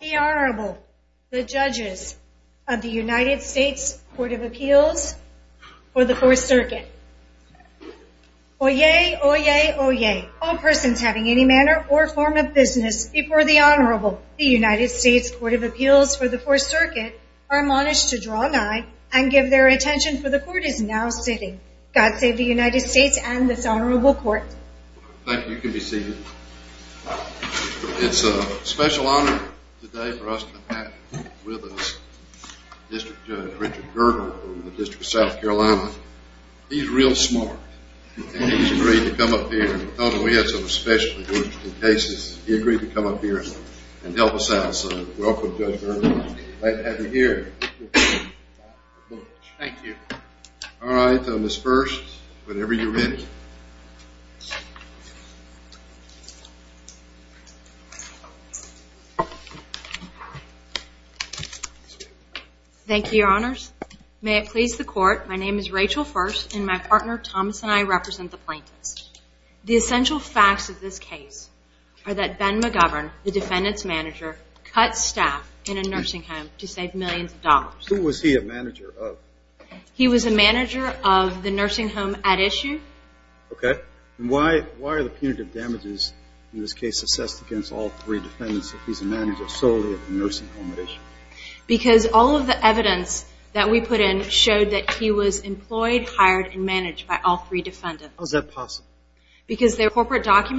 The Honorable, the Judges of the United States Court of Appeals for the Fourth Circuit. Oyez! Oyez! Oyez! All persons having any manner or form of business before the Honorable, the United States Court of Appeals for the Fourth Circuit, are admonished to draw nigh and give their attention, for the Court is now sitting. God save the United States and this Honorable Court. Thank you. You can be seated. It's a special honor today for us to have with us District Judge Richard Gerber from the District of South Carolina. He's real smart and he's agreed to come up here. We had some special cases. He agreed to come up here and help us out, so welcome Judge Gerber. Glad to have you here. Thank you. Alright, Ms. First, whenever you're ready. Thank you, Your Honors. May it please the Court, my name is Rachel First and my partner Thomas and I represent the plaintiffs. The essential facts of this case are that Ben McGovern, the defendant's manager, cut staff in a nursing home to save millions of dollars. Who was he a manager of? He was a manager of the nursing home at issue. Okay. Why are the punitive damages in this case assessed against all three defendants if he's a manager solely of the nursing home at issue? Because all of the evidence that we put in showed that he was employed, hired, and managed by all three defendants. How is that possible? Is that typical? I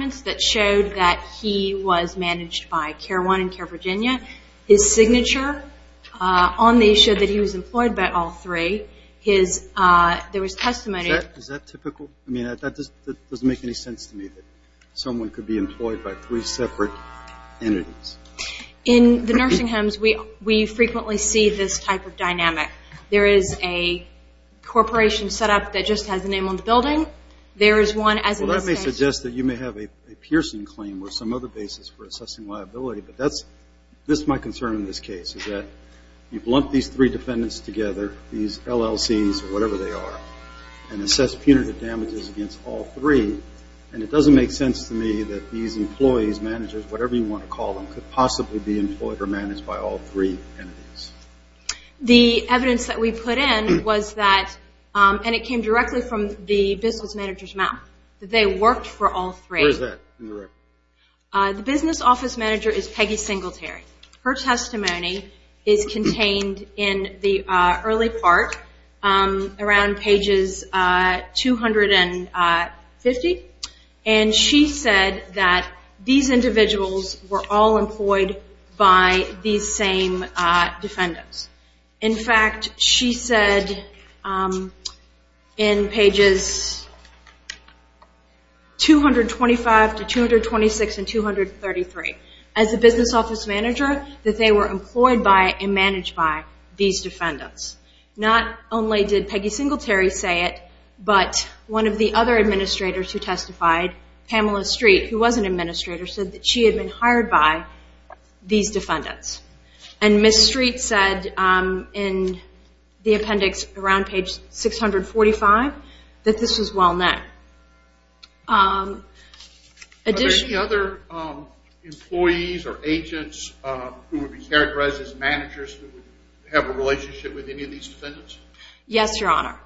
mean, that doesn't make any sense to me that someone could be employed by three separate entities. In the nursing homes, we frequently see this type of dynamic. There is a corporation set up that just has a name on the building. There is one as an institution. Well, that may suggest that you may have a Pearson claim or some other basis for assessing liability, but that's my concern in this case is that you've lumped these three defendants together, these LLCs or whatever they are, and assessed punitive damages against all three. And it doesn't make sense to me that these employees, managers, whatever you want to call them, could possibly be employed or managed by all three entities. The evidence that we put in was that, and it came directly from the business manager's mouth, that they worked for all three. Where is that in the record? The business office manager is Peggy Singletary. Her testimony is contained in the early part around pages 250, and she said that these individuals were all employed by these same defendants. In fact, she said in pages 225 to 226 and 233, as a business office manager, that they were employed by and managed by these defendants. Not only did Peggy Singletary say it, but one of the other administrators who testified, Pamela Street, who was an administrator, said that she had been hired by these defendants. And Ms. Street said in the appendix around page 645 that this was well-known. Are there any other employees or agents who would be characterized as managers who have a relationship with any of these defendants? Yes, Your Honor.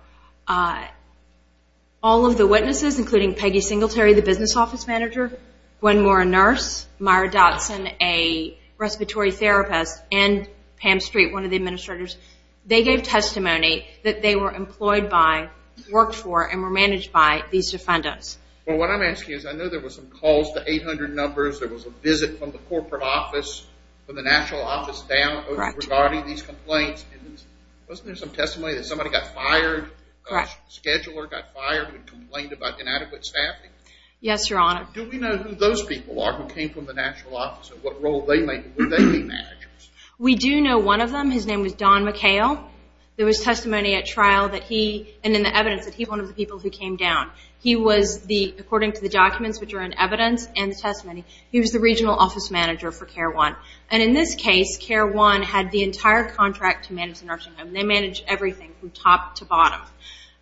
All of the witnesses, including Peggy Singletary, the business office manager, Gwen Moore, a nurse, Myra Dotson, a respiratory therapist, and Pam Street, one of the administrators, they gave testimony that they were employed by, worked for, and were managed by these defendants. Well, what I'm asking is, I know there were some calls to 800 numbers. There was a visit from the corporate office, from the national office down, regarding these complaints. Wasn't there some testimony that somebody got fired? A scheduler got fired and complained about inadequate staffing? Yes, Your Honor. Do we know who those people are who came from the national office and what role they played? We do know one of them. His name was Don McHale. There was testimony at trial that he, and in the evidence, that he was one of the people who came down. He was, according to the documents which are in evidence and the testimony, he was the regional office manager for CARE 1. And in this case, CARE 1 had the entire contract to manage the nursing home. They managed everything from top to bottom.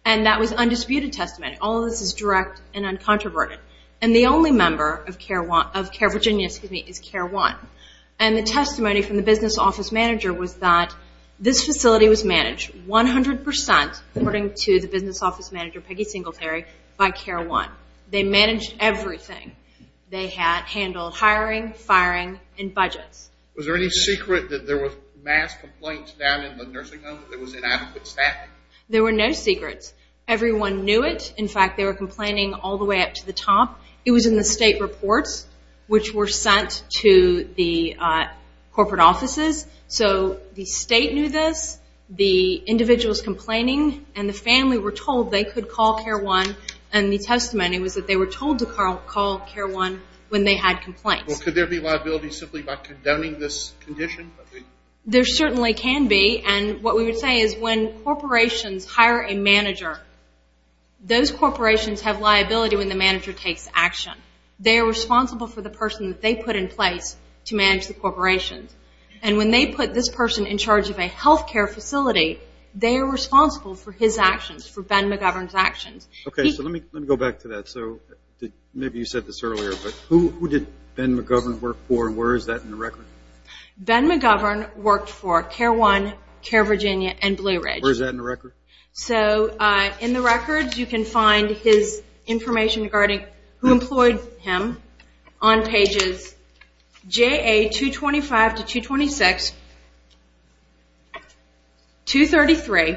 And that was undisputed testimony. All of this is direct and uncontroverted. And the only member of CARE Virginia, excuse me, is CARE 1. And the testimony from the business office manager was that this facility was managed 100%, according to the business office manager, Peggy Singletary, by CARE 1. They managed everything. They had handled hiring, firing, and budgets. Was there any secret that there were mass complaints down in the nursing home that there was inadequate staffing? There were no secrets. Everyone knew it. In fact, they were complaining all the way up to the top. It was in the state reports which were sent to the corporate offices. So the state knew this, the individuals complaining, and the family were told they could call CARE 1. And the testimony was that they were told to call CARE 1 when they had complaints. Could there be liability simply by condoning this condition? There certainly can be. And what we would say is when corporations hire a manager, those corporations have liability when the manager takes action. They are responsible for the person that they put in place to manage the corporation. And when they put this person in charge of a health care facility, they are responsible for his actions, for Ben McGovern's actions. Okay, so let me go back to that. So maybe you said this earlier, but who did Ben McGovern work for and where is that in the record? Ben McGovern worked for CARE 1, CARE Virginia, and Blue Ridge. Where is that in the record? So in the records you can find his information regarding who employed him on pages JA 225 to 226, 233.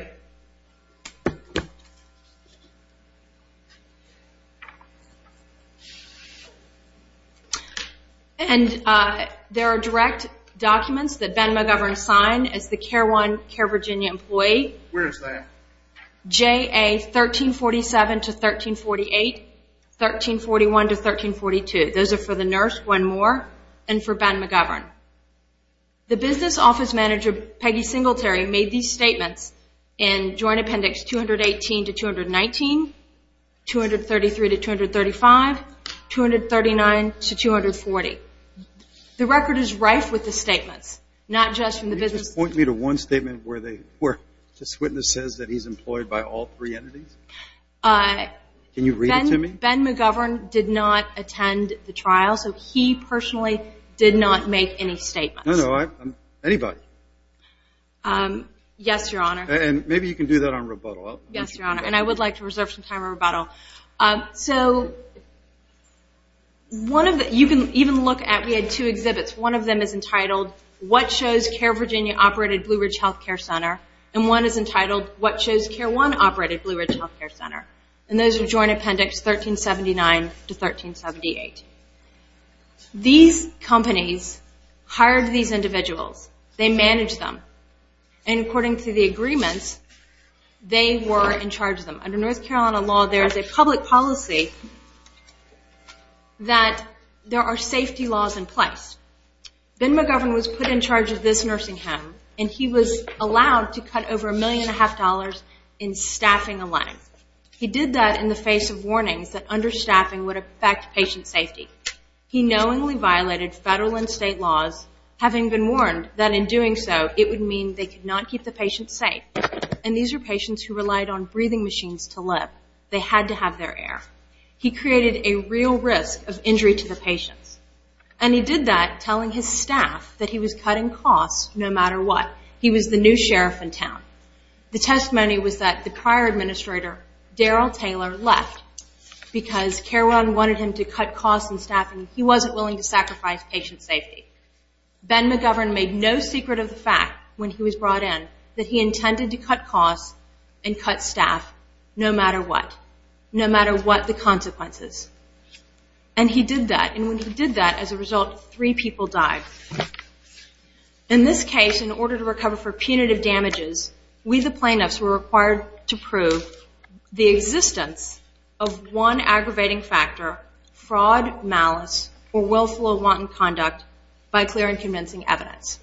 And there are direct documents that Ben McGovern signed as the CARE 1, CARE Virginia employee. Where is that? JA 1347 to 1348, 1341 to 1342. Those are for the nurse, one more, and for Ben McGovern. The business office manager, Peggy Singletary, made these statements in Joint Appendix 218 to 219, 233 to 235, 239 to 240. The record is rife with the statements, not just from the business office. Point me to one statement where this witness says that he's employed by all three entities. Can you read it to me? Ben McGovern did not attend the trial, so he personally did not make any statements. No, no, anybody. Yes, Your Honor. And maybe you can do that on rebuttal. Yes, Your Honor, and I would like to reserve some time for rebuttal. So one of the – you can even look at – we had two exhibits. One of them is entitled, What Shows CARE Virginia Operated Blue Ridge Health Care Center? And one is entitled, What Shows CARE One Operated Blue Ridge Health Care Center? And those are Joint Appendix 1379 to 1378. These companies hired these individuals. They managed them. And according to the agreements, they were in charge of them. Under North Carolina law, there is a public policy that there are safety laws in place. Ben McGovern was put in charge of this nursing home, and he was allowed to cut over a million and a half dollars in staffing alone. He did that in the face of warnings that understaffing would affect patient safety. He knowingly violated federal and state laws, having been warned that in doing so it would mean they could not keep the patient safe. And these are patients who relied on breathing machines to live. They had to have their air. He created a real risk of injury to the patients. And he did that telling his staff that he was cutting costs no matter what. He was the new sheriff in town. The testimony was that the prior administrator, Darrell Taylor, left because CARE One wanted him to cut costs in staffing. He wasn't willing to sacrifice patient safety. Ben McGovern made no secret of the fact when he was brought in that he intended to cut costs and cut staff no matter what, no matter what the consequences. And he did that, and when he did that, as a result, three people died. In this case, in order to recover for punitive damages, we the plaintiffs were required to prove the existence of one aggravating factor, fraud, malice, or willful or wanton conduct by clear and convincing evidence.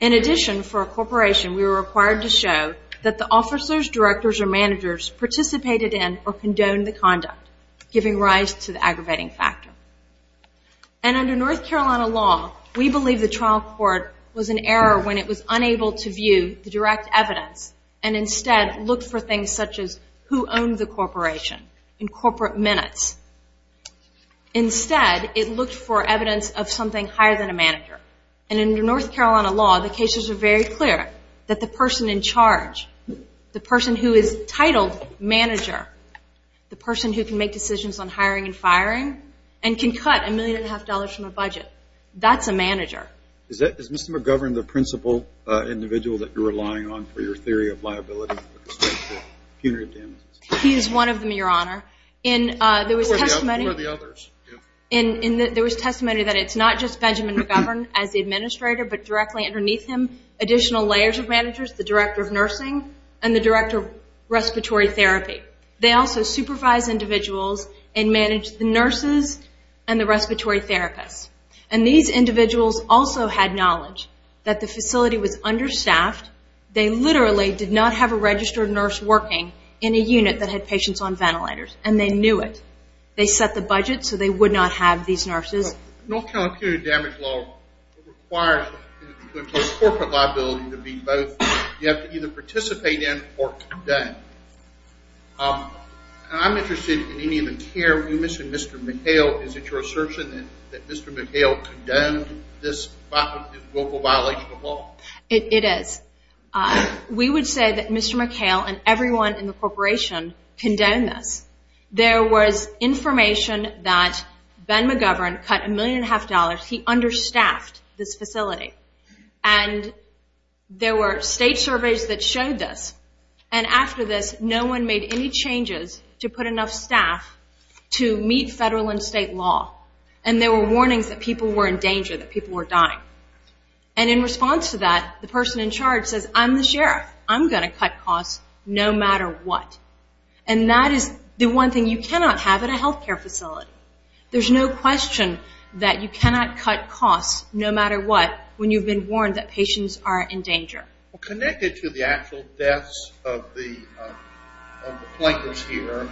In addition, for a corporation, we were required to show that the officers, directors, or managers participated in or condoned the conduct, giving rise to the aggravating factor. And under North Carolina law, we believe the trial court was in error when it was unable to view the direct evidence and instead looked for things such as who owned the corporation in corporate minutes. Instead, it looked for evidence of something higher than a manager. And under North Carolina law, the cases are very clear, that the person in charge, the person who is titled manager, the person who can make decisions on hiring and firing and can cut a million and a half dollars from a budget, that's a manager. Is Mr. McGovern the principal individual that you're relying on for your theory of liability? He is one of them, Your Honor. Who are the others? There was testimony that it's not just Benjamin McGovern as the administrator, but directly underneath him additional layers of managers, the director of nursing and the director of respiratory therapy. They also supervise individuals and manage the nurses and the respiratory therapists. And these individuals also had knowledge that the facility was understaffed. They literally did not have a registered nurse working in a unit that had patients on ventilators, and they knew it. They set the budget so they would not have these nurses. North Carolina community damage law requires corporate liability to be both. You have to either participate in or condone. I'm interested in any of the care. You mentioned Mr. McHale. Is it your assertion that Mr. McHale condoned this local violation of law? It is. We would say that Mr. McHale and everyone in the corporation condoned this. There was information that Ben McGovern cut a million and a half dollars. He understaffed this facility. And there were state surveys that showed this. And after this, no one made any changes to put enough staff to meet federal and state law. And there were warnings that people were in danger, that people were dying. And in response to that, the person in charge says, I'm the sheriff, I'm going to cut costs no matter what. And that is the one thing you cannot have in a health care facility. There's no question that you cannot cut costs no matter what when you've been warned that patients are in danger. Connected to the actual deaths of the plaintiffs here,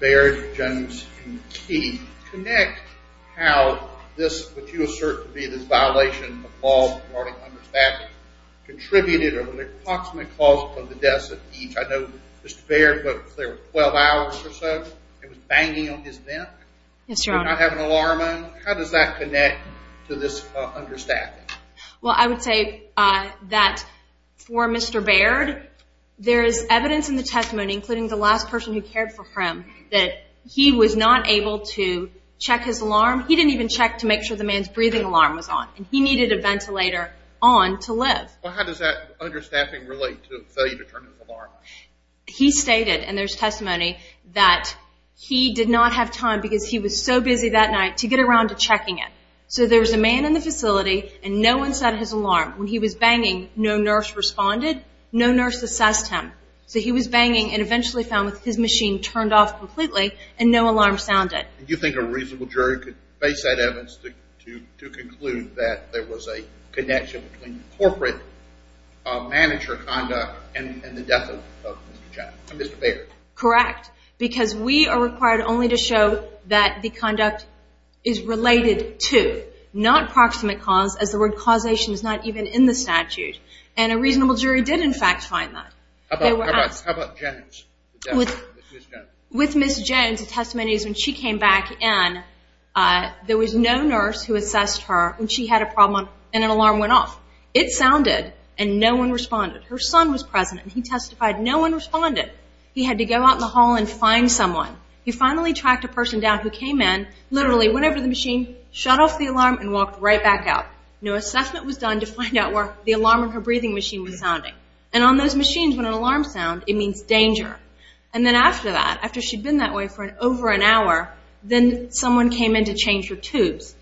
Baird, Jones, and Key, can you connect how this, what you assert to be this violation of law, regarding understaffing, contributed or approximately caused the deaths of each? I know Mr. Baird, there were 12 hours or so. It was banging on his neck. Yes, Your Honor. Did not have an alarm on. How does that connect to this understaffing? Well, I would say that for Mr. Baird, there is evidence in the testimony, including the last person who cared for him, that he was not able to check his alarm. He didn't even check to make sure the man's breathing alarm was on, and he needed a ventilator on to live. Well, how does that understaffing relate to a failure to turn his alarm on? He stated, and there's testimony, that he did not have time because he was so busy that night to get around to checking it. So there was a man in the facility, and no one set his alarm. When he was banging, no nurse responded, no nurse assessed him. So he was banging, and eventually found his machine turned off completely, and no alarm sounded. Do you think a reasonable jury could base that evidence to conclude that there was a connection between corporate manager conduct and the death of Mr. Baird? Correct, because we are required only to show that the conduct is related to, not proximate cause, as the word causation is not even in the statute. And a reasonable jury did, in fact, find that. How about Jones? With Ms. Jones, the testimony is when she came back in, there was no nurse who assessed her when she had a problem and an alarm went off. It sounded, and no one responded. Her son was present, and he testified. No one responded. He had to go out in the hall and find someone. He finally tracked a person down who came in, literally went over to the machine, shut off the alarm, and walked right back out. No assessment was done to find out where the alarm on her breathing machine was sounding. And on those machines, when an alarm sounds, it means danger. And then after that, after she'd been that way for over an hour, then someone came in to change her tubes.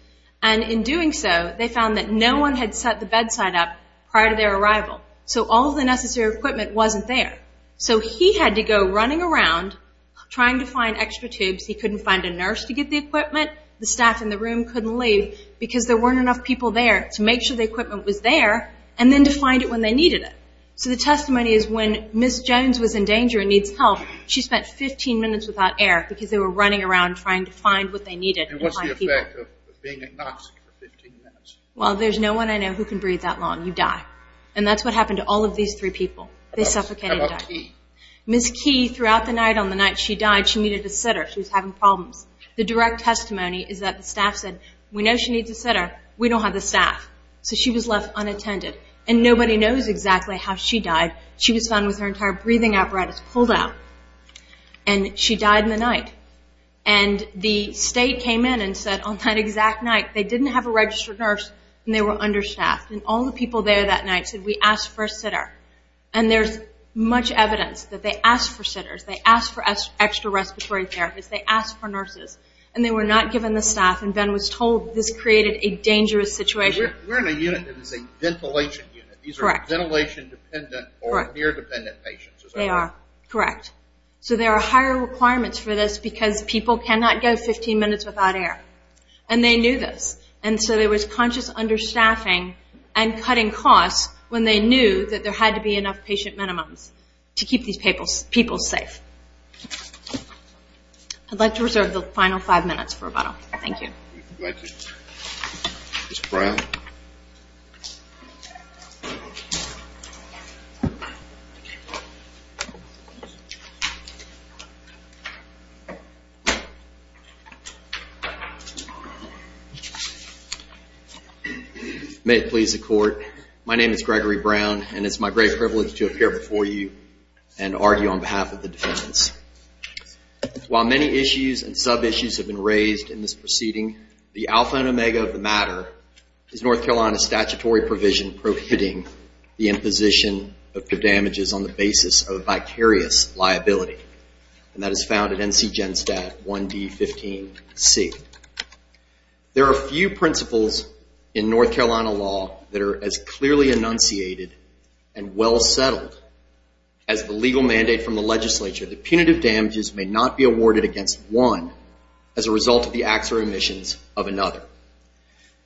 And in doing so, they found that no one had set the bedside up prior to their arrival. So all the necessary equipment wasn't there. So he had to go running around trying to find extra tubes. He couldn't find a nurse to get the equipment. The staff in the room couldn't leave because there weren't enough people there to make sure the equipment was there and then to find it when they needed it. So the testimony is when Ms. Jones was in danger and needs help, she spent 15 minutes without air because they were running around trying to find what they needed. And what's the effect of being agnostic for 15 minutes? Well, there's no one I know who can breathe that long. You die. And that's what happened to all of these three people. They suffocated and died. How about Key? Ms. Key, throughout the night, on the night she died, she needed a sitter. She was having problems. The direct testimony is that the staff said, we know she needs a sitter. We don't have the staff. So she was left unattended. And nobody knows exactly how she died. She was found with her entire breathing apparatus pulled out. And she died in the night. And the state came in and said on that exact night they didn't have a registered nurse and they were understaffed. And all the people there that night said we asked for a sitter. And there's much evidence that they asked for sitters. They asked for extra respiratory therapists. They asked for nurses. And they were not given the staff. And Ben was told this created a dangerous situation. We're in a unit that is a ventilation unit. Correct. These are ventilation-dependent or near-dependent patients. They are. Correct. So there are higher requirements for this because people cannot go 15 minutes without air. And they knew this. And so there was conscious understaffing and cutting costs when they knew that there had to be enough patient minimums to keep these people safe. I'd like to reserve the final five minutes for rebuttal. Thank you. Thank you. Mr. Brown. May it please the Court. My name is Gregory Brown, and it's my great privilege to appear before you and argue on behalf of the defendants. While many issues and sub-issues have been raised in this proceeding, the alpha and omega of the matter is North Carolina's statutory provision prohibiting the imposition of damages on the basis of vicarious liability. And that is found in NC GENSTAT 1D15C. There are few principles in North Carolina law that are as clearly enunciated and well-settled as the legal mandate from the legislature that punitive damages may not be awarded against one as a result of the acts or omissions of another.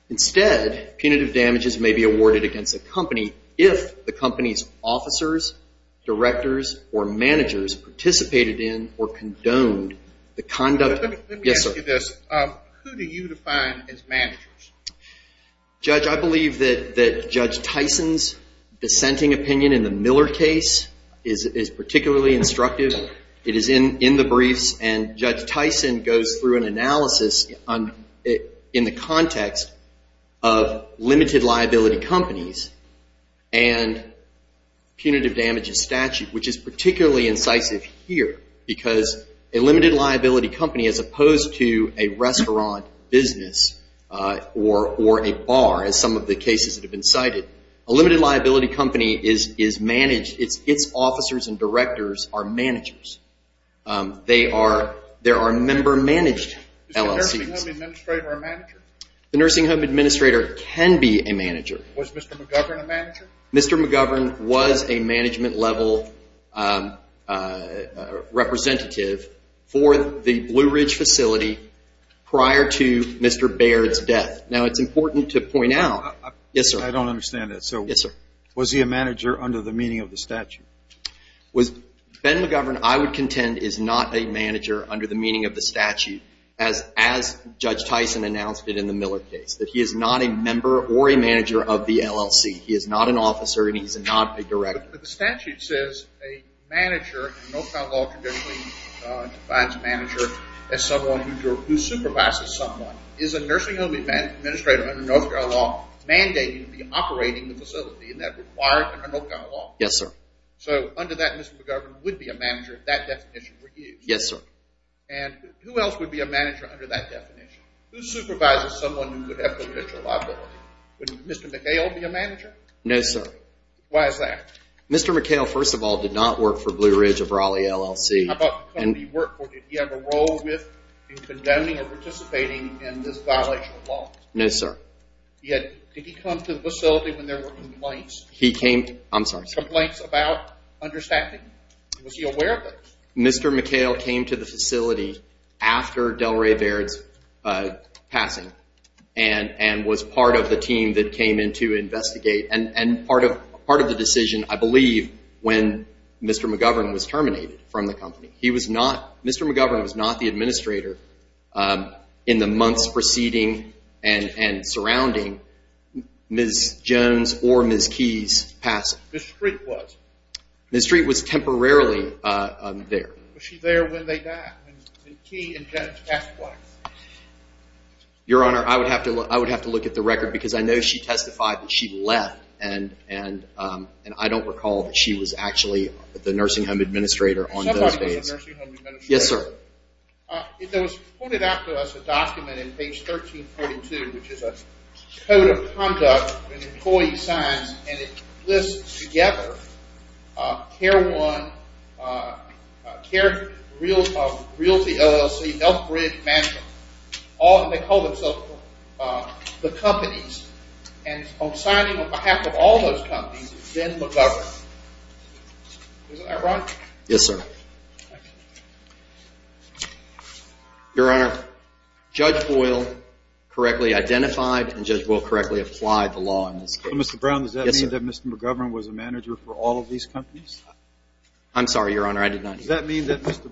Instead, punitive damages may be awarded against a company if the company's officers, directors, or managers participated in or condoned the conduct. Let me ask you this. Who do you define as managers? Judge, I believe that Judge Tyson's dissenting opinion in the Miller case is particularly instructive. It is in the briefs, and Judge Tyson goes through an analysis in the context of limited liability companies and punitive damages statute, which is particularly incisive here because a limited liability company, as opposed to a restaurant business or a bar, as some of the cases that have been cited, a limited liability company is managed. Its officers and directors are managers. They are member-managed LLCs. Is the nursing home administrator a manager? The nursing home administrator can be a manager. Was Mr. McGovern a manager? Mr. McGovern was a management-level representative for the Blue Ridge facility prior to Mr. Baird's death. Now, it's important to point out. Yes, sir. I don't understand that. Yes, sir. Was he a manager under the meaning of the statute? Ben McGovern, I would contend, is not a manager under the meaning of the statute, as Judge Tyson announced it in the Miller case, that he is not a member or a manager of the LLC. He is not an officer, and he is not a director. But the statute says a manager in the North Carolina law traditionally defines a manager as someone who supervises someone. Is a nursing home administrator under North Carolina law mandated to be operating the facility, and that required under North Carolina law? Yes, sir. So under that, Mr. McGovern would be a manager if that definition were used? Yes, sir. And who else would be a manager under that definition? Who supervises someone who would have potential liability? Would Mr. McHale be a manager? No, sir. Why is that? Mr. McHale, first of all, did not work for Blue Ridge of Raleigh LLC. How about the company he worked for? Did he have a role with in condoning or participating in this violation of law? No, sir. Did he come to the facility when there were complaints? He came to the facility. I'm sorry. Complaints about understaffing? Was he aware of that? Mr. McHale came to the facility after Delray Baird's passing and was part of the team that came in to investigate, and part of the decision, I believe, when Mr. McGovern was terminated from the company. Mr. McGovern was not the administrator in the months preceding and surrounding Ms. Jones or Ms. Keyes' passing. Ms. Street was? She was temporarily there. Was she there when they died, when Keyes and Jones passed away? Your Honor, I would have to look at the record because I know she testified that she left, and I don't recall that she was actually the nursing home administrator on those days. Somebody was the nursing home administrator. Yes, sir. There was pointed out to us a document in page 1342, which is a Code of Conduct and Employee Signs, and it lists together CARE 1, CARE Realty LLC, Elk Bridge Mansion. They call themselves the companies, and on signing on behalf of all those companies is Ben McGovern. Is that right, Ron? Yes, sir. Your Honor, Judge Boyle correctly identified and Judge Boyle correctly applied the law in this case. Mr. Brown, does that mean that Mr. McGovern was a manager for all of these companies? I'm sorry, Your Honor, I did not hear you. Does that mean that Mr.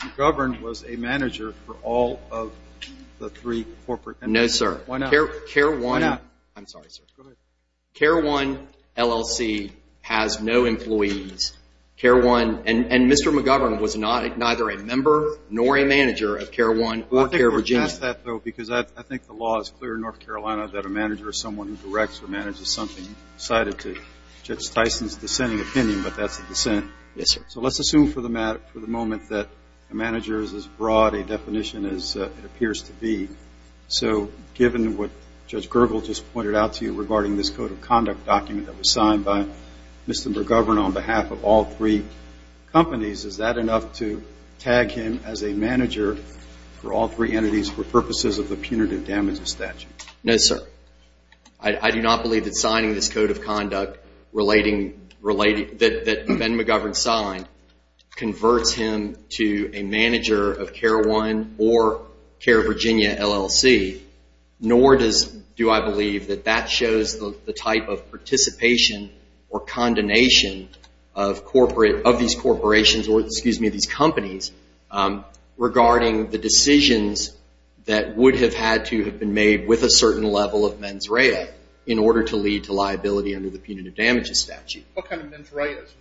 McGovern was a manager for all of the three corporate companies? No, sir. Why not? CARE 1 LLC has no employees. And Mr. McGovern was neither a member nor a manager of CARE 1 or CARE Virginia. I think we're past that, though, because I think the law is clear in North Carolina that a manager is someone who directs or manages something cited to Judge Tyson's dissenting opinion, but that's a dissent. Yes, sir. So let's assume for the moment that a manager is as broad a definition as it appears to be. So given what Judge Gergel just pointed out to you regarding this Code of Conduct document that was signed by Mr. McGovern on behalf of all three companies, is that enough to tag him as a manager for all three entities for purposes of the punitive damages statute? No, sir. I do not believe that signing this Code of Conduct that Ben McGovern signed converts him to a manager of CARE 1 or CARE Virginia LLC, nor do I believe that that shows the type of participation or condemnation of these corporations or, excuse me, these companies, regarding the decisions that would have had to have been made with a certain level of mens rea in order to lead to liability under the punitive damages statute. What kind of mens reas?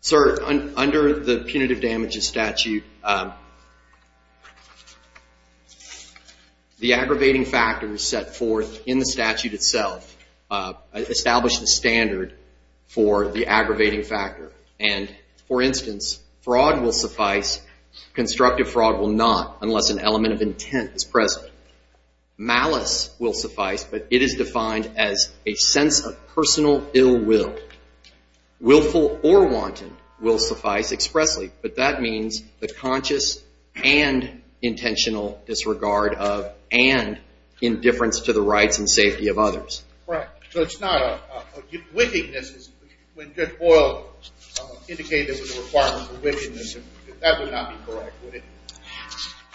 Sir, under the punitive damages statute, the aggravating factors set forth in the statute itself establish the standard for the aggravating factor. And, for instance, fraud will suffice. Constructive fraud will not unless an element of intent is present. Malice will suffice, but it is defined as a sense of personal ill will. Willful or wanton will suffice expressly, but that means the conscious and intentional disregard of and indifference to the rights and safety of others. Right. So it's not a wickedness when Judge Boyle indicated the requirement for wickedness. That would not be correct, would it?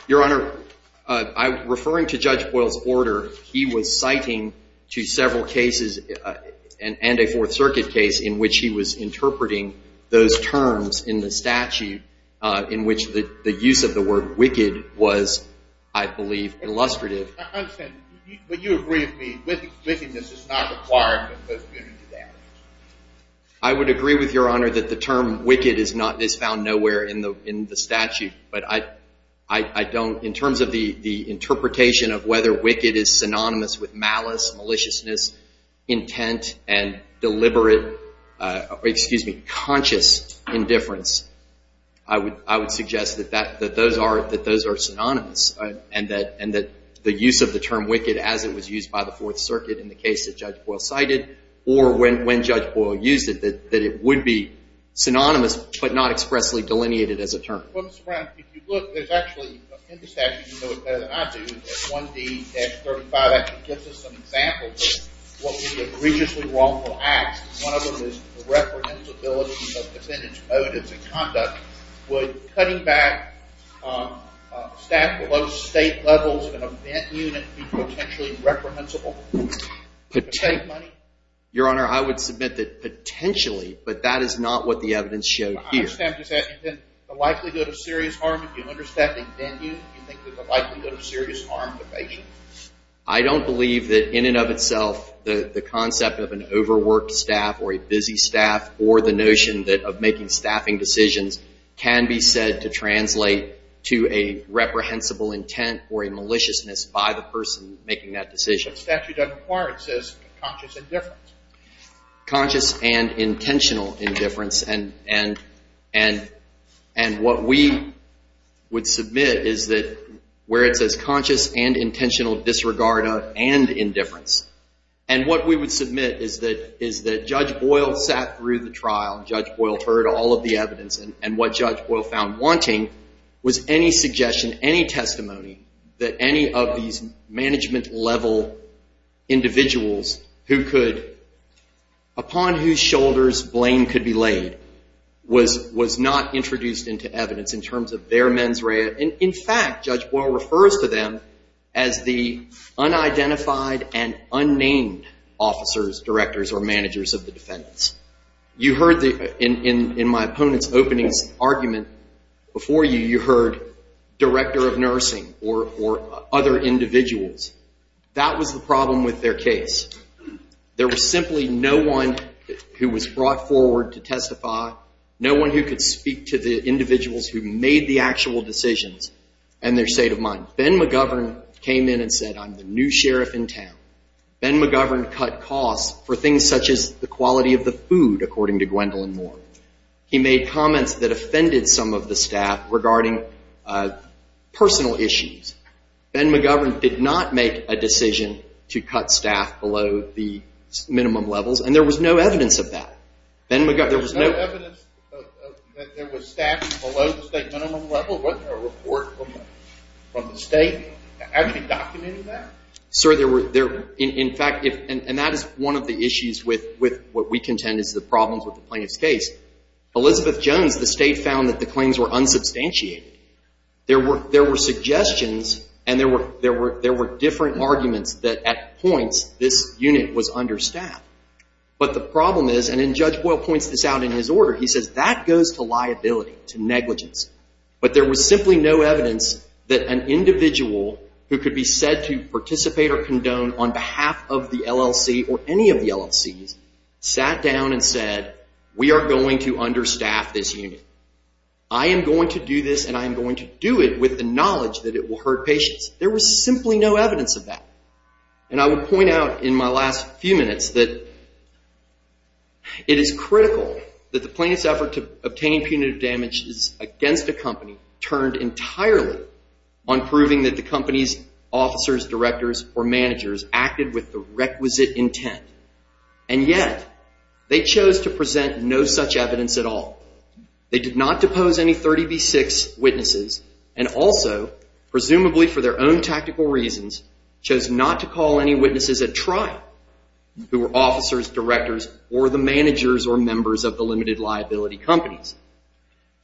Your Honor, referring to Judge Boyle's order, he was citing to several cases and a Fourth Circuit case in which he was interpreting those terms in the statute in which the use of the word wicked was, I believe, illustrative. I understand. But you agree with me, wickedness is not required in the punitive damages? I would agree with Your Honor that the term wicked is found nowhere in the statute. But I don't, in terms of the interpretation of whether wicked is synonymous with malice, maliciousness, intent, and deliberate, excuse me, conscious indifference, I would suggest that those are synonymous and that the use of the term wicked as it was used by the Fourth Circuit in the case that Judge Boyle cited or when Judge Boyle used it, that it would be synonymous but not expressly delineated as a term. Mr. Brown, if you look, there's actually, in the statute, you know it better than I do, that 1D-35 actually gives us some examples of what would be egregiously wrongful acts. One of them is the reprehensibility of defendant's motives and conduct. Would cutting back staff below state levels in an event unit be potentially reprehensible? Your Honor, I would submit that potentially, but that is not what the evidence showed here. I understand. Does that mean the likelihood of serious harm if you understaffing venue? Do you think there's a likelihood of serious harm to the patient? I don't believe that in and of itself the concept of an overworked staff or a busy staff or the notion of making staffing decisions can be said to translate to a reprehensible intent or a maliciousness by the person making that decision. But the statute doesn't require it. It says conscious indifference. Conscious and intentional indifference. And what we would submit is that where it says conscious and intentional disregard of and indifference, and what we would submit is that Judge Boyle sat through the trial, Judge Boyle heard all of the evidence, and what Judge Boyle found wanting was any suggestion, any testimony, that any of these management-level individuals who could, upon whose shoulders blame could be laid, was not introduced into evidence in terms of their mens rea. In fact, Judge Boyle refers to them as the unidentified and unnamed officers, directors, or managers of the defendants. You heard in my opponent's opening argument before you, you heard director of nursing or other individuals. That was the problem with their case. There was simply no one who was brought forward to testify, no one who could speak to the individuals who made the actual decisions and their state of mind. Ben McGovern came in and said, I'm the new sheriff in town. Ben McGovern cut costs for things such as the quality of the food, according to Gwendolyn Moore. He made comments that offended some of the staff regarding personal issues. Ben McGovern did not make a decision to cut staff below the minimum levels, and there was no evidence of that. There was no evidence that there was staff below the state minimum level? Wasn't there a report from the state actually documenting that? Sir, there were, in fact, and that is one of the issues with what we contend is the problems with the plaintiff's case. Elizabeth Jones, the state found that the claims were unsubstantiated. There were suggestions and there were different arguments that at points this unit was understaffed. But the problem is, and then Judge Boyle points this out in his order, he says that goes to liability, to negligence. But there was simply no evidence that an individual who could be said to participate or condone on behalf of the LLC or any of the LLCs sat down and said, we are going to understaff this unit. I am going to do this and I am going to do it with the knowledge that it will hurt patients. There was simply no evidence of that. And I would point out in my last few minutes that it is critical that the plaintiff's effort to obtain punitive damage against a company turned entirely on proving that the company's officers, directors, or managers acted with the requisite intent. And yet, they chose to present no such evidence at all. They did not depose any 30B6 witnesses and also, presumably for their own tactical reasons, chose not to call any witnesses at trial who were officers, directors, or the managers or members of the limited liability companies.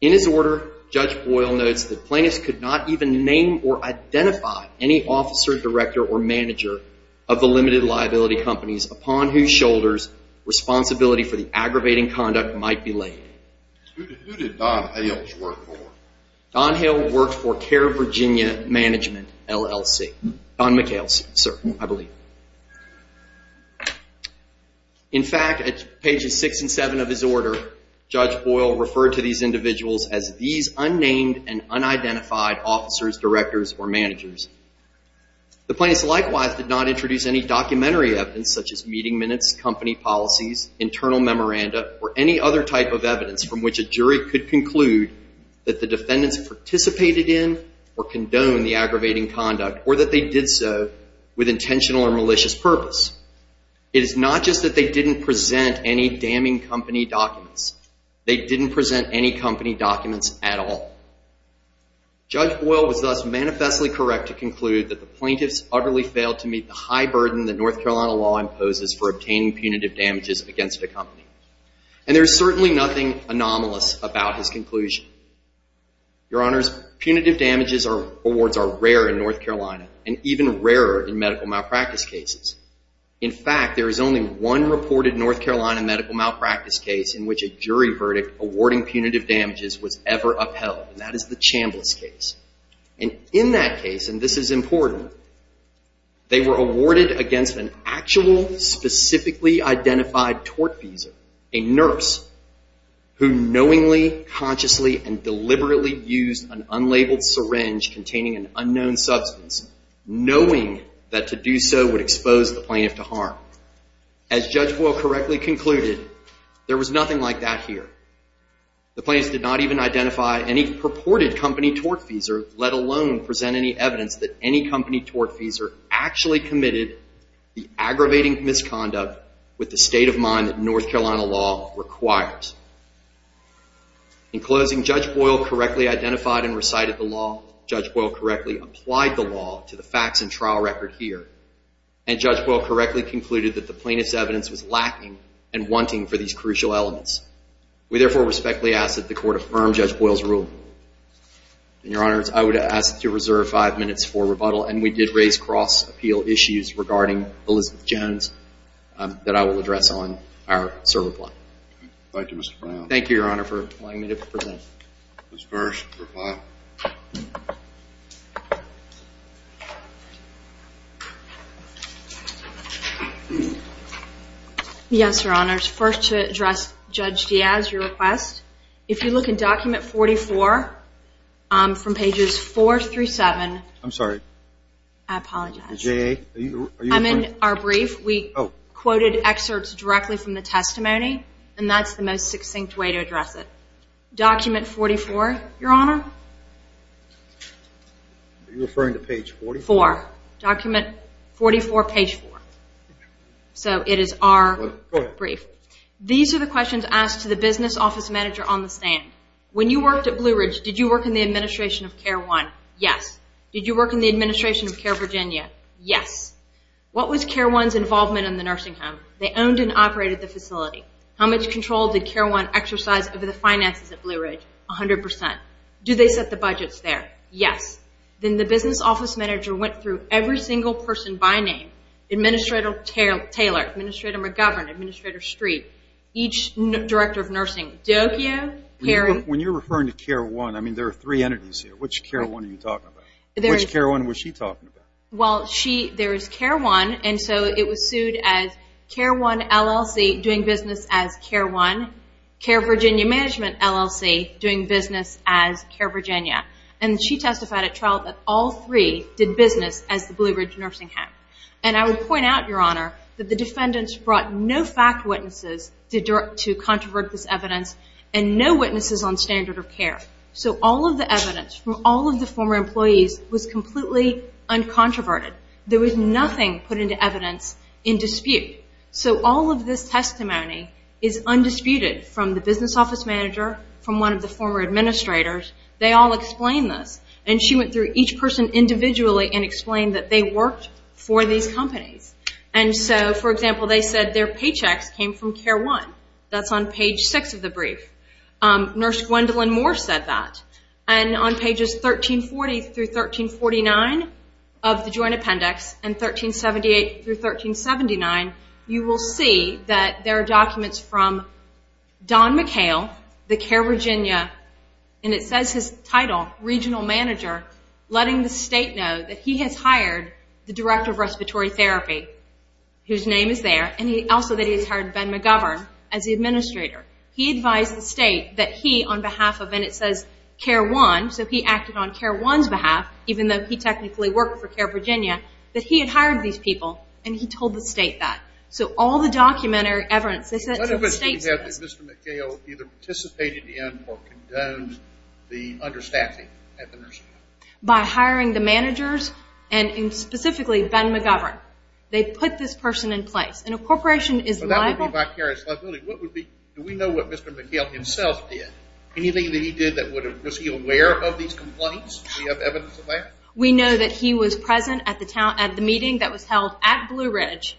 In his order, Judge Boyle notes that plaintiffs could not even name or identify any officer, director, or manager of the limited liability companies upon whose shoulders responsibility for the aggravating conduct might be laid. Who did Don Hales work for? Don Hale worked for Care Virginia Management, LLC. Don McHale, sir, I believe. In fact, at pages six and seven of his order, Judge Boyle referred to these individuals as these unnamed and unidentified officers, directors, or managers. The plaintiffs likewise did not introduce any documentary evidence such as meeting minutes, company policies, internal memoranda, or any other type of evidence from which a jury could conclude that the defendants participated in or condoned the aggravating conduct or that they did so with intentional or malicious purpose. It is not just that they didn't present any damning company documents. They didn't present any company documents at all. Judge Boyle was thus manifestly correct to conclude that the plaintiffs utterly failed to meet the high burden that North Carolina law imposes for obtaining punitive damages against a company. And there is certainly nothing anomalous about his conclusion. Your Honors, punitive damages awards are rare in North Carolina and even rarer in medical malpractice cases. In fact, there is only one reported North Carolina medical malpractice case in which a jury verdict awarding punitive damages was ever upheld, and that is the Chambliss case. And in that case, and this is important, they were awarded against an actual, a specifically identified tortfeasor, a nurse, who knowingly, consciously, and deliberately used an unlabeled syringe containing an unknown substance, knowing that to do so would expose the plaintiff to harm. As Judge Boyle correctly concluded, there was nothing like that here. The plaintiffs did not even identify any purported company tortfeasor, let alone present any evidence that any company tortfeasor actually committed the aggravating misconduct with the state of mind that North Carolina law requires. In closing, Judge Boyle correctly identified and recited the law. Judge Boyle correctly applied the law to the facts and trial record here. And Judge Boyle correctly concluded that the plaintiff's evidence was lacking and wanting for these crucial elements. We therefore respectfully ask that the Court affirm Judge Boyle's rule. And, Your Honors, I would ask to reserve five minutes for rebuttal, and we did raise cross-appeal issues regarding Elizabeth Jones that I will address on our server plot. Thank you, Mr. Brown. Thank you, Your Honor, for allowing me to present. Ms. Burris, reply. Yes, Your Honors. First, to address Judge Diaz, your request. If you look in Document 44 from pages 4 through 7. I'm sorry. I apologize. Ms. J.A., are you referring? I'm in our brief. We quoted excerpts directly from the testimony, and that's the most succinct way to address it. Document 44, Your Honor. Are you referring to page 44? Four. Document 44, page 4. So it is our brief. These are the questions asked to the business office manager on the stand. When you worked at Blue Ridge, did you work in the administration of CARE 1? Yes. Did you work in the administration of CARE Virginia? Yes. What was CARE 1's involvement in the nursing home? They owned and operated the facility. How much control did CARE 1 exercise over the finances at Blue Ridge? 100%. Do they set the budgets there? Yes. Then the business office manager went through every single person by name, Administrator Taylor, Administrator McGovern, Administrator Street, each director of nursing. When you're referring to CARE 1, I mean there are three entities here. Which CARE 1 are you talking about? Which CARE 1 was she talking about? Well, there is CARE 1, and so it was sued as CARE 1 LLC doing business as CARE 1, CARE Virginia Management LLC doing business as CARE Virginia. And she testified at trial that all three did business as the Blue Ridge Nursing Home. And I would point out, Your Honor, that the defendants brought no fact witnesses to controvert this evidence and no witnesses on standard of care. So all of the evidence from all of the former employees was completely uncontroverted. There was nothing put into evidence in dispute. So all of this testimony is undisputed from the business office manager, from one of the former administrators. They all explained this. And she went through each person individually and explained that they worked for these companies. And so, for example, they said their paychecks came from CARE 1. That's on page 6 of the brief. Nurse Gwendolyn Moore said that. And on pages 1340 through 1349 of the Joint Appendix and 1378 through 1379, you will see that there are documents from Don McHale, the CARE Virginia, and it says his title, Regional Manager, letting the state know that he has hired the Director of Respiratory Therapy, whose name is there, and also that he has hired Ben McGovern as the administrator. He advised the state that he, on behalf of, and it says CARE 1, so he acted on CARE 1's behalf, even though he technically worked for CARE Virginia, that he had hired these people, and he told the state that. So all the documentary evidence, they sent to the state. What if it's that Mr. McHale either participated in or condoned the understaffing at the nursing home? By hiring the managers, and specifically Ben McGovern. They put this person in place, and a corporation is liable. So that would be vicarious liability. Do we know what Mr. McHale himself did? Anything that he did, was he aware of these complaints? Do we have evidence of that? We know that he was present at the meeting that was held at Blue Ridge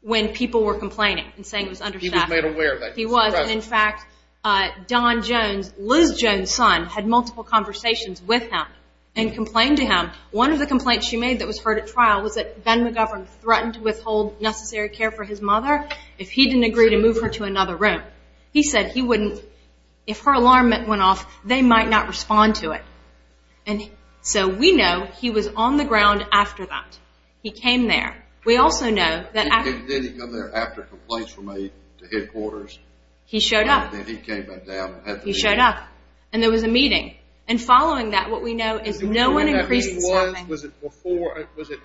when people were complaining and saying it was understaffed. He was made aware of that. He was. In fact, Don Jones, Liz Jones' son, had multiple conversations with him and complained to him. One of the complaints she made that was heard at trial was that Ben McGovern threatened to withhold necessary care for his mother if he didn't agree to move her to another room. He said he wouldn't, if her alarm went off, they might not respond to it. So we know he was on the ground after that. He came there. We also know that after complaints were made to headquarters, he came back down and had the meeting. He showed up, and there was a meeting. And following that, what we know is no one increases timing. Was it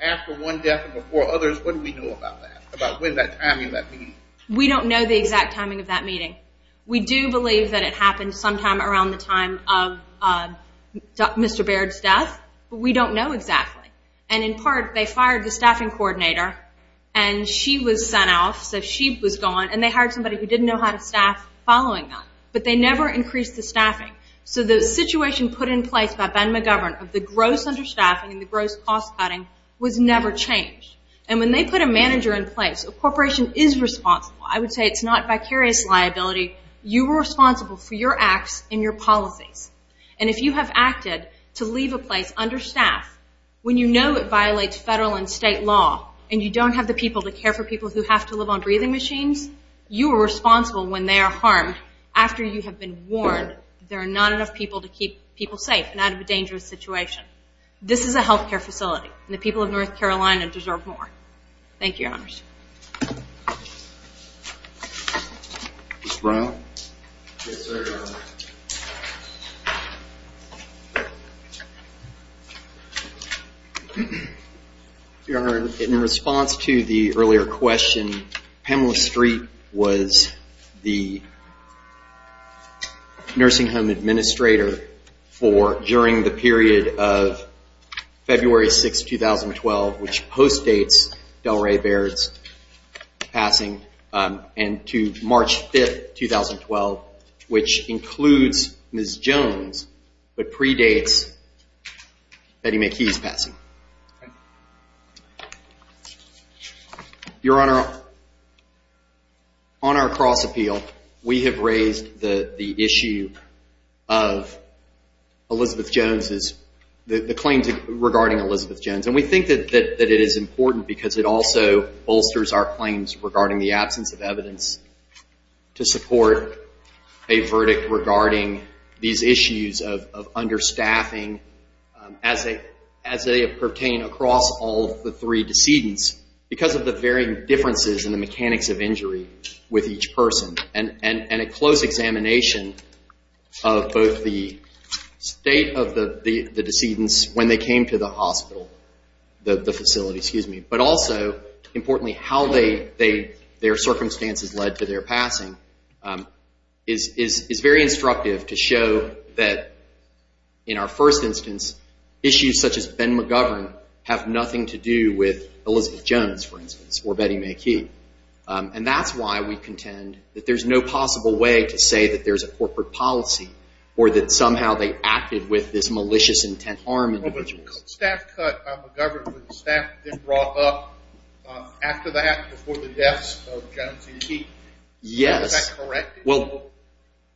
after one death and before others? What do we know about that, about when that timing of that meeting? We don't know the exact timing of that meeting. We do believe that it happened sometime around the time of Mr. Baird's death. But we don't know exactly. And in part, they fired the staffing coordinator, and she was sent off. So she was gone. And they hired somebody who didn't know how to staff following that. But they never increased the staffing. So the situation put in place by Ben McGovern of the gross understaffing and the gross cost-cutting was never changed. And when they put a manager in place, a corporation is responsible. I would say it's not vicarious liability. You were responsible for your acts and your policies. And if you have acted to leave a place understaffed, when you know it violates federal and state law and you don't have the people to care for people who have to live on breathing machines, you are responsible when they are harmed after you have been warned that there are not enough people to keep people safe and out of a dangerous situation. This is a health care facility, and the people of North Carolina deserve more. Thank you, Your Honors. Ms. Brown? Yes, sir, Your Honor. Your Honor, in response to the earlier question, Pamela Streep was the nursing home administrator for during the period of February 6, 2012, which postdates Delray Baird's passing, and to March 5, 2012, which includes Ms. Jones but predates Betty McKee's passing. Your Honor, on our cross-appeal, we have raised the issue of Elizabeth Jones's, the claims regarding Elizabeth Jones. And we think that it is important because it also bolsters our claims regarding the absence of evidence to support a verdict regarding these issues of understaffing as they pertain across all of the three decedents because of the varying differences in the mechanics of injury with each person and a close examination of both the state of the decedents when they came to the hospital, the facility, excuse me, but also, importantly, how their circumstances led to their passing is very instructive to show that, in our first instance, issues such as Ben McGovern have nothing to do with Elizabeth Jones, for instance, or Betty McKee. And that's why we contend that there's no possible way to say that there's a corporate policy or that somehow they acted with this malicious intent to harm individuals. Well, but staff cut McGovern, but the staff then brought up after that, before the deaths of Jones and Keefe. Yes. Is that correct? Well,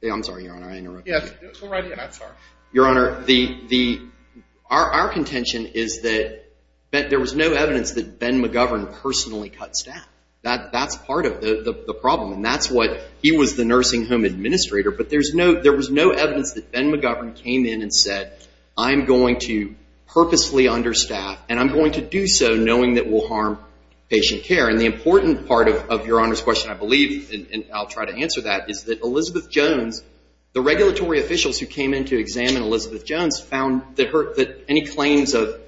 I'm sorry, Your Honor, I interrupted you. Yes, go right ahead. I'm sorry. Your Honor, our contention is that there was no evidence that Ben McGovern personally cut staff. That's part of the problem, and that's what he was the nursing home administrator. But there was no evidence that Ben McGovern came in and said, I'm going to purposely understaff, and I'm going to do so knowing that will harm patient care. And the important part of Your Honor's question, I believe, and I'll try to answer that, is that Elizabeth Jones, the regulatory officials who came in to examine Elizabeth Jones, found that any claims of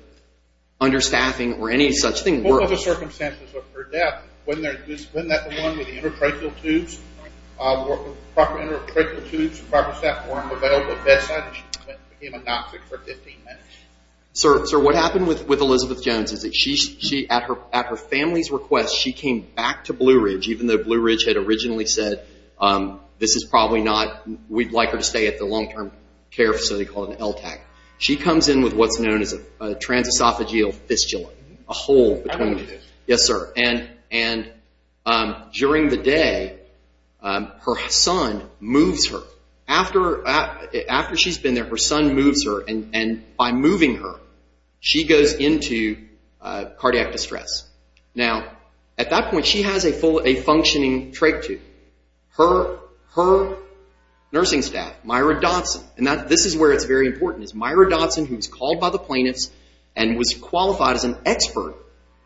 understaffing or any such thing worked. What were the circumstances of her death? Wasn't that the one with the endotracheal tubes, proper endotracheal tubes, proper staff, were available at bedside, and she became anoxic for 15 minutes? Sir, what happened with Elizabeth Jones is that she, at her family's request, she came back to Blue Ridge, even though Blue Ridge had originally said, this is probably not, we'd like her to stay at the long-term care facility called an LTAC. She comes in with what's known as a transesophageal fistula, a hole between the two. Yes, sir. And during the day, her son moves her. After she's been there, her son moves her, and by moving her, she goes into cardiac distress. Now, at that point, she has a functioning trach tube. Her nursing staff, Myra Dodson, and this is where it's very important, is Myra Dodson, who was called by the plaintiffs and was qualified as an expert,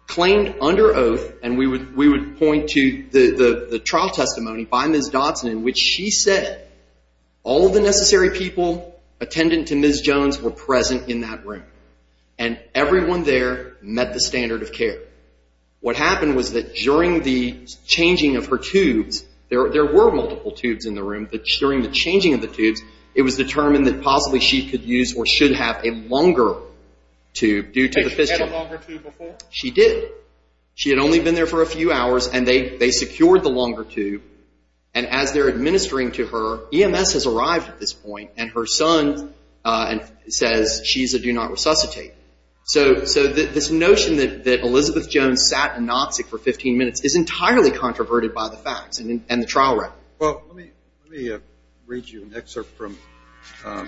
claimed under oath, and we would point to the trial testimony by Ms. Dodson, in which she said all of the necessary people attendant to Ms. Jones were present in that room, and everyone there met the standard of care. What happened was that during the changing of her tubes, there were multiple tubes in the room, but during the changing of the tubes, it was determined that possibly she could use or should have a longer tube due to the fistula. Had she had a longer tube before? She did. She had only been there for a few hours, and they secured the longer tube, and as they're administering to her, EMS has arrived at this point, and her son says she's a do-not-resuscitate. So this notion that Elizabeth Jones sat anoxic for 15 minutes is entirely controverted by the facts and the trial record. Well, let me read you an excerpt from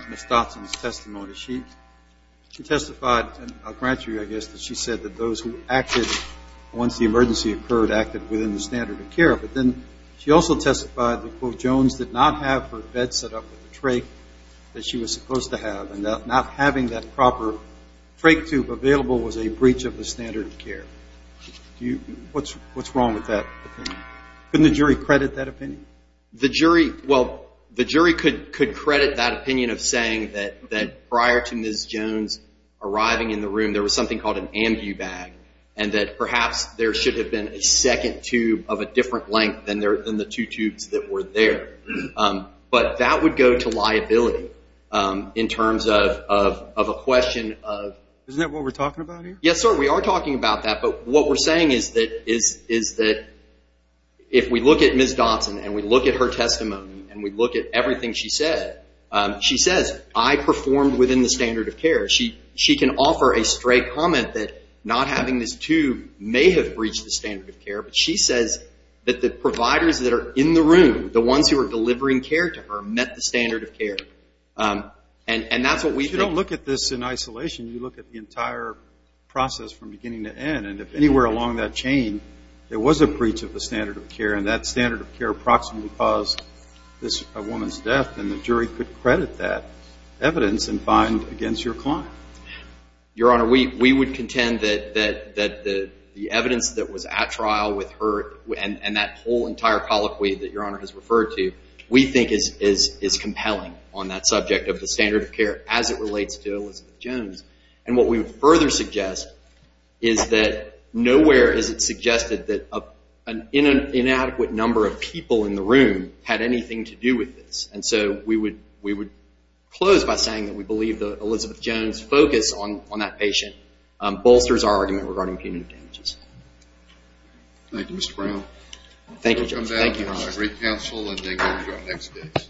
Ms. Dodson's testimony. She testified, and I'll grant you, I guess, that she said that those who acted once the emergency occurred acted within the standard of care, but then she also testified that, quote, Jones did not have her bed set up with the trach that she was supposed to have, and not having that proper trach tube available was a breach of the standard of care. What's wrong with that opinion? Couldn't the jury credit that opinion? Well, the jury could credit that opinion of saying that prior to Ms. Jones arriving in the room, there was something called an ambu bag, and that perhaps there should have been a second tube of a different length than the two tubes that were there. But that would go to liability in terms of a question of- Isn't that what we're talking about here? Yes, sir, we are talking about that, but what we're saying is that if we look at Ms. Dodson and we look at her testimony and we look at everything she said, she says, I performed within the standard of care. She can offer a straight comment that not having this tube may have breached the standard of care, but she says that the providers that are in the room, the ones who are delivering care to her, met the standard of care, and that's what we think- If you don't look at this in isolation, you look at the entire process from beginning to end, and if anywhere along that chain there was a breach of the standard of care and that standard of care approximately caused this woman's death, then the jury could credit that evidence and find against your client. Your Honor, we would contend that the evidence that was at trial with her and that whole entire colloquy that Your Honor has referred to, we think is compelling on that subject of the standard of care as it relates to Elizabeth Jones. And what we would further suggest is that nowhere is it suggested that an inadequate number of people in the room had anything to do with this. And so we would close by saying that we believe that Elizabeth Jones' focus on that patient bolsters our argument regarding punitive damages. Thank you, Mr. Brown. Thank you, Judge. Thank you, Your Honor.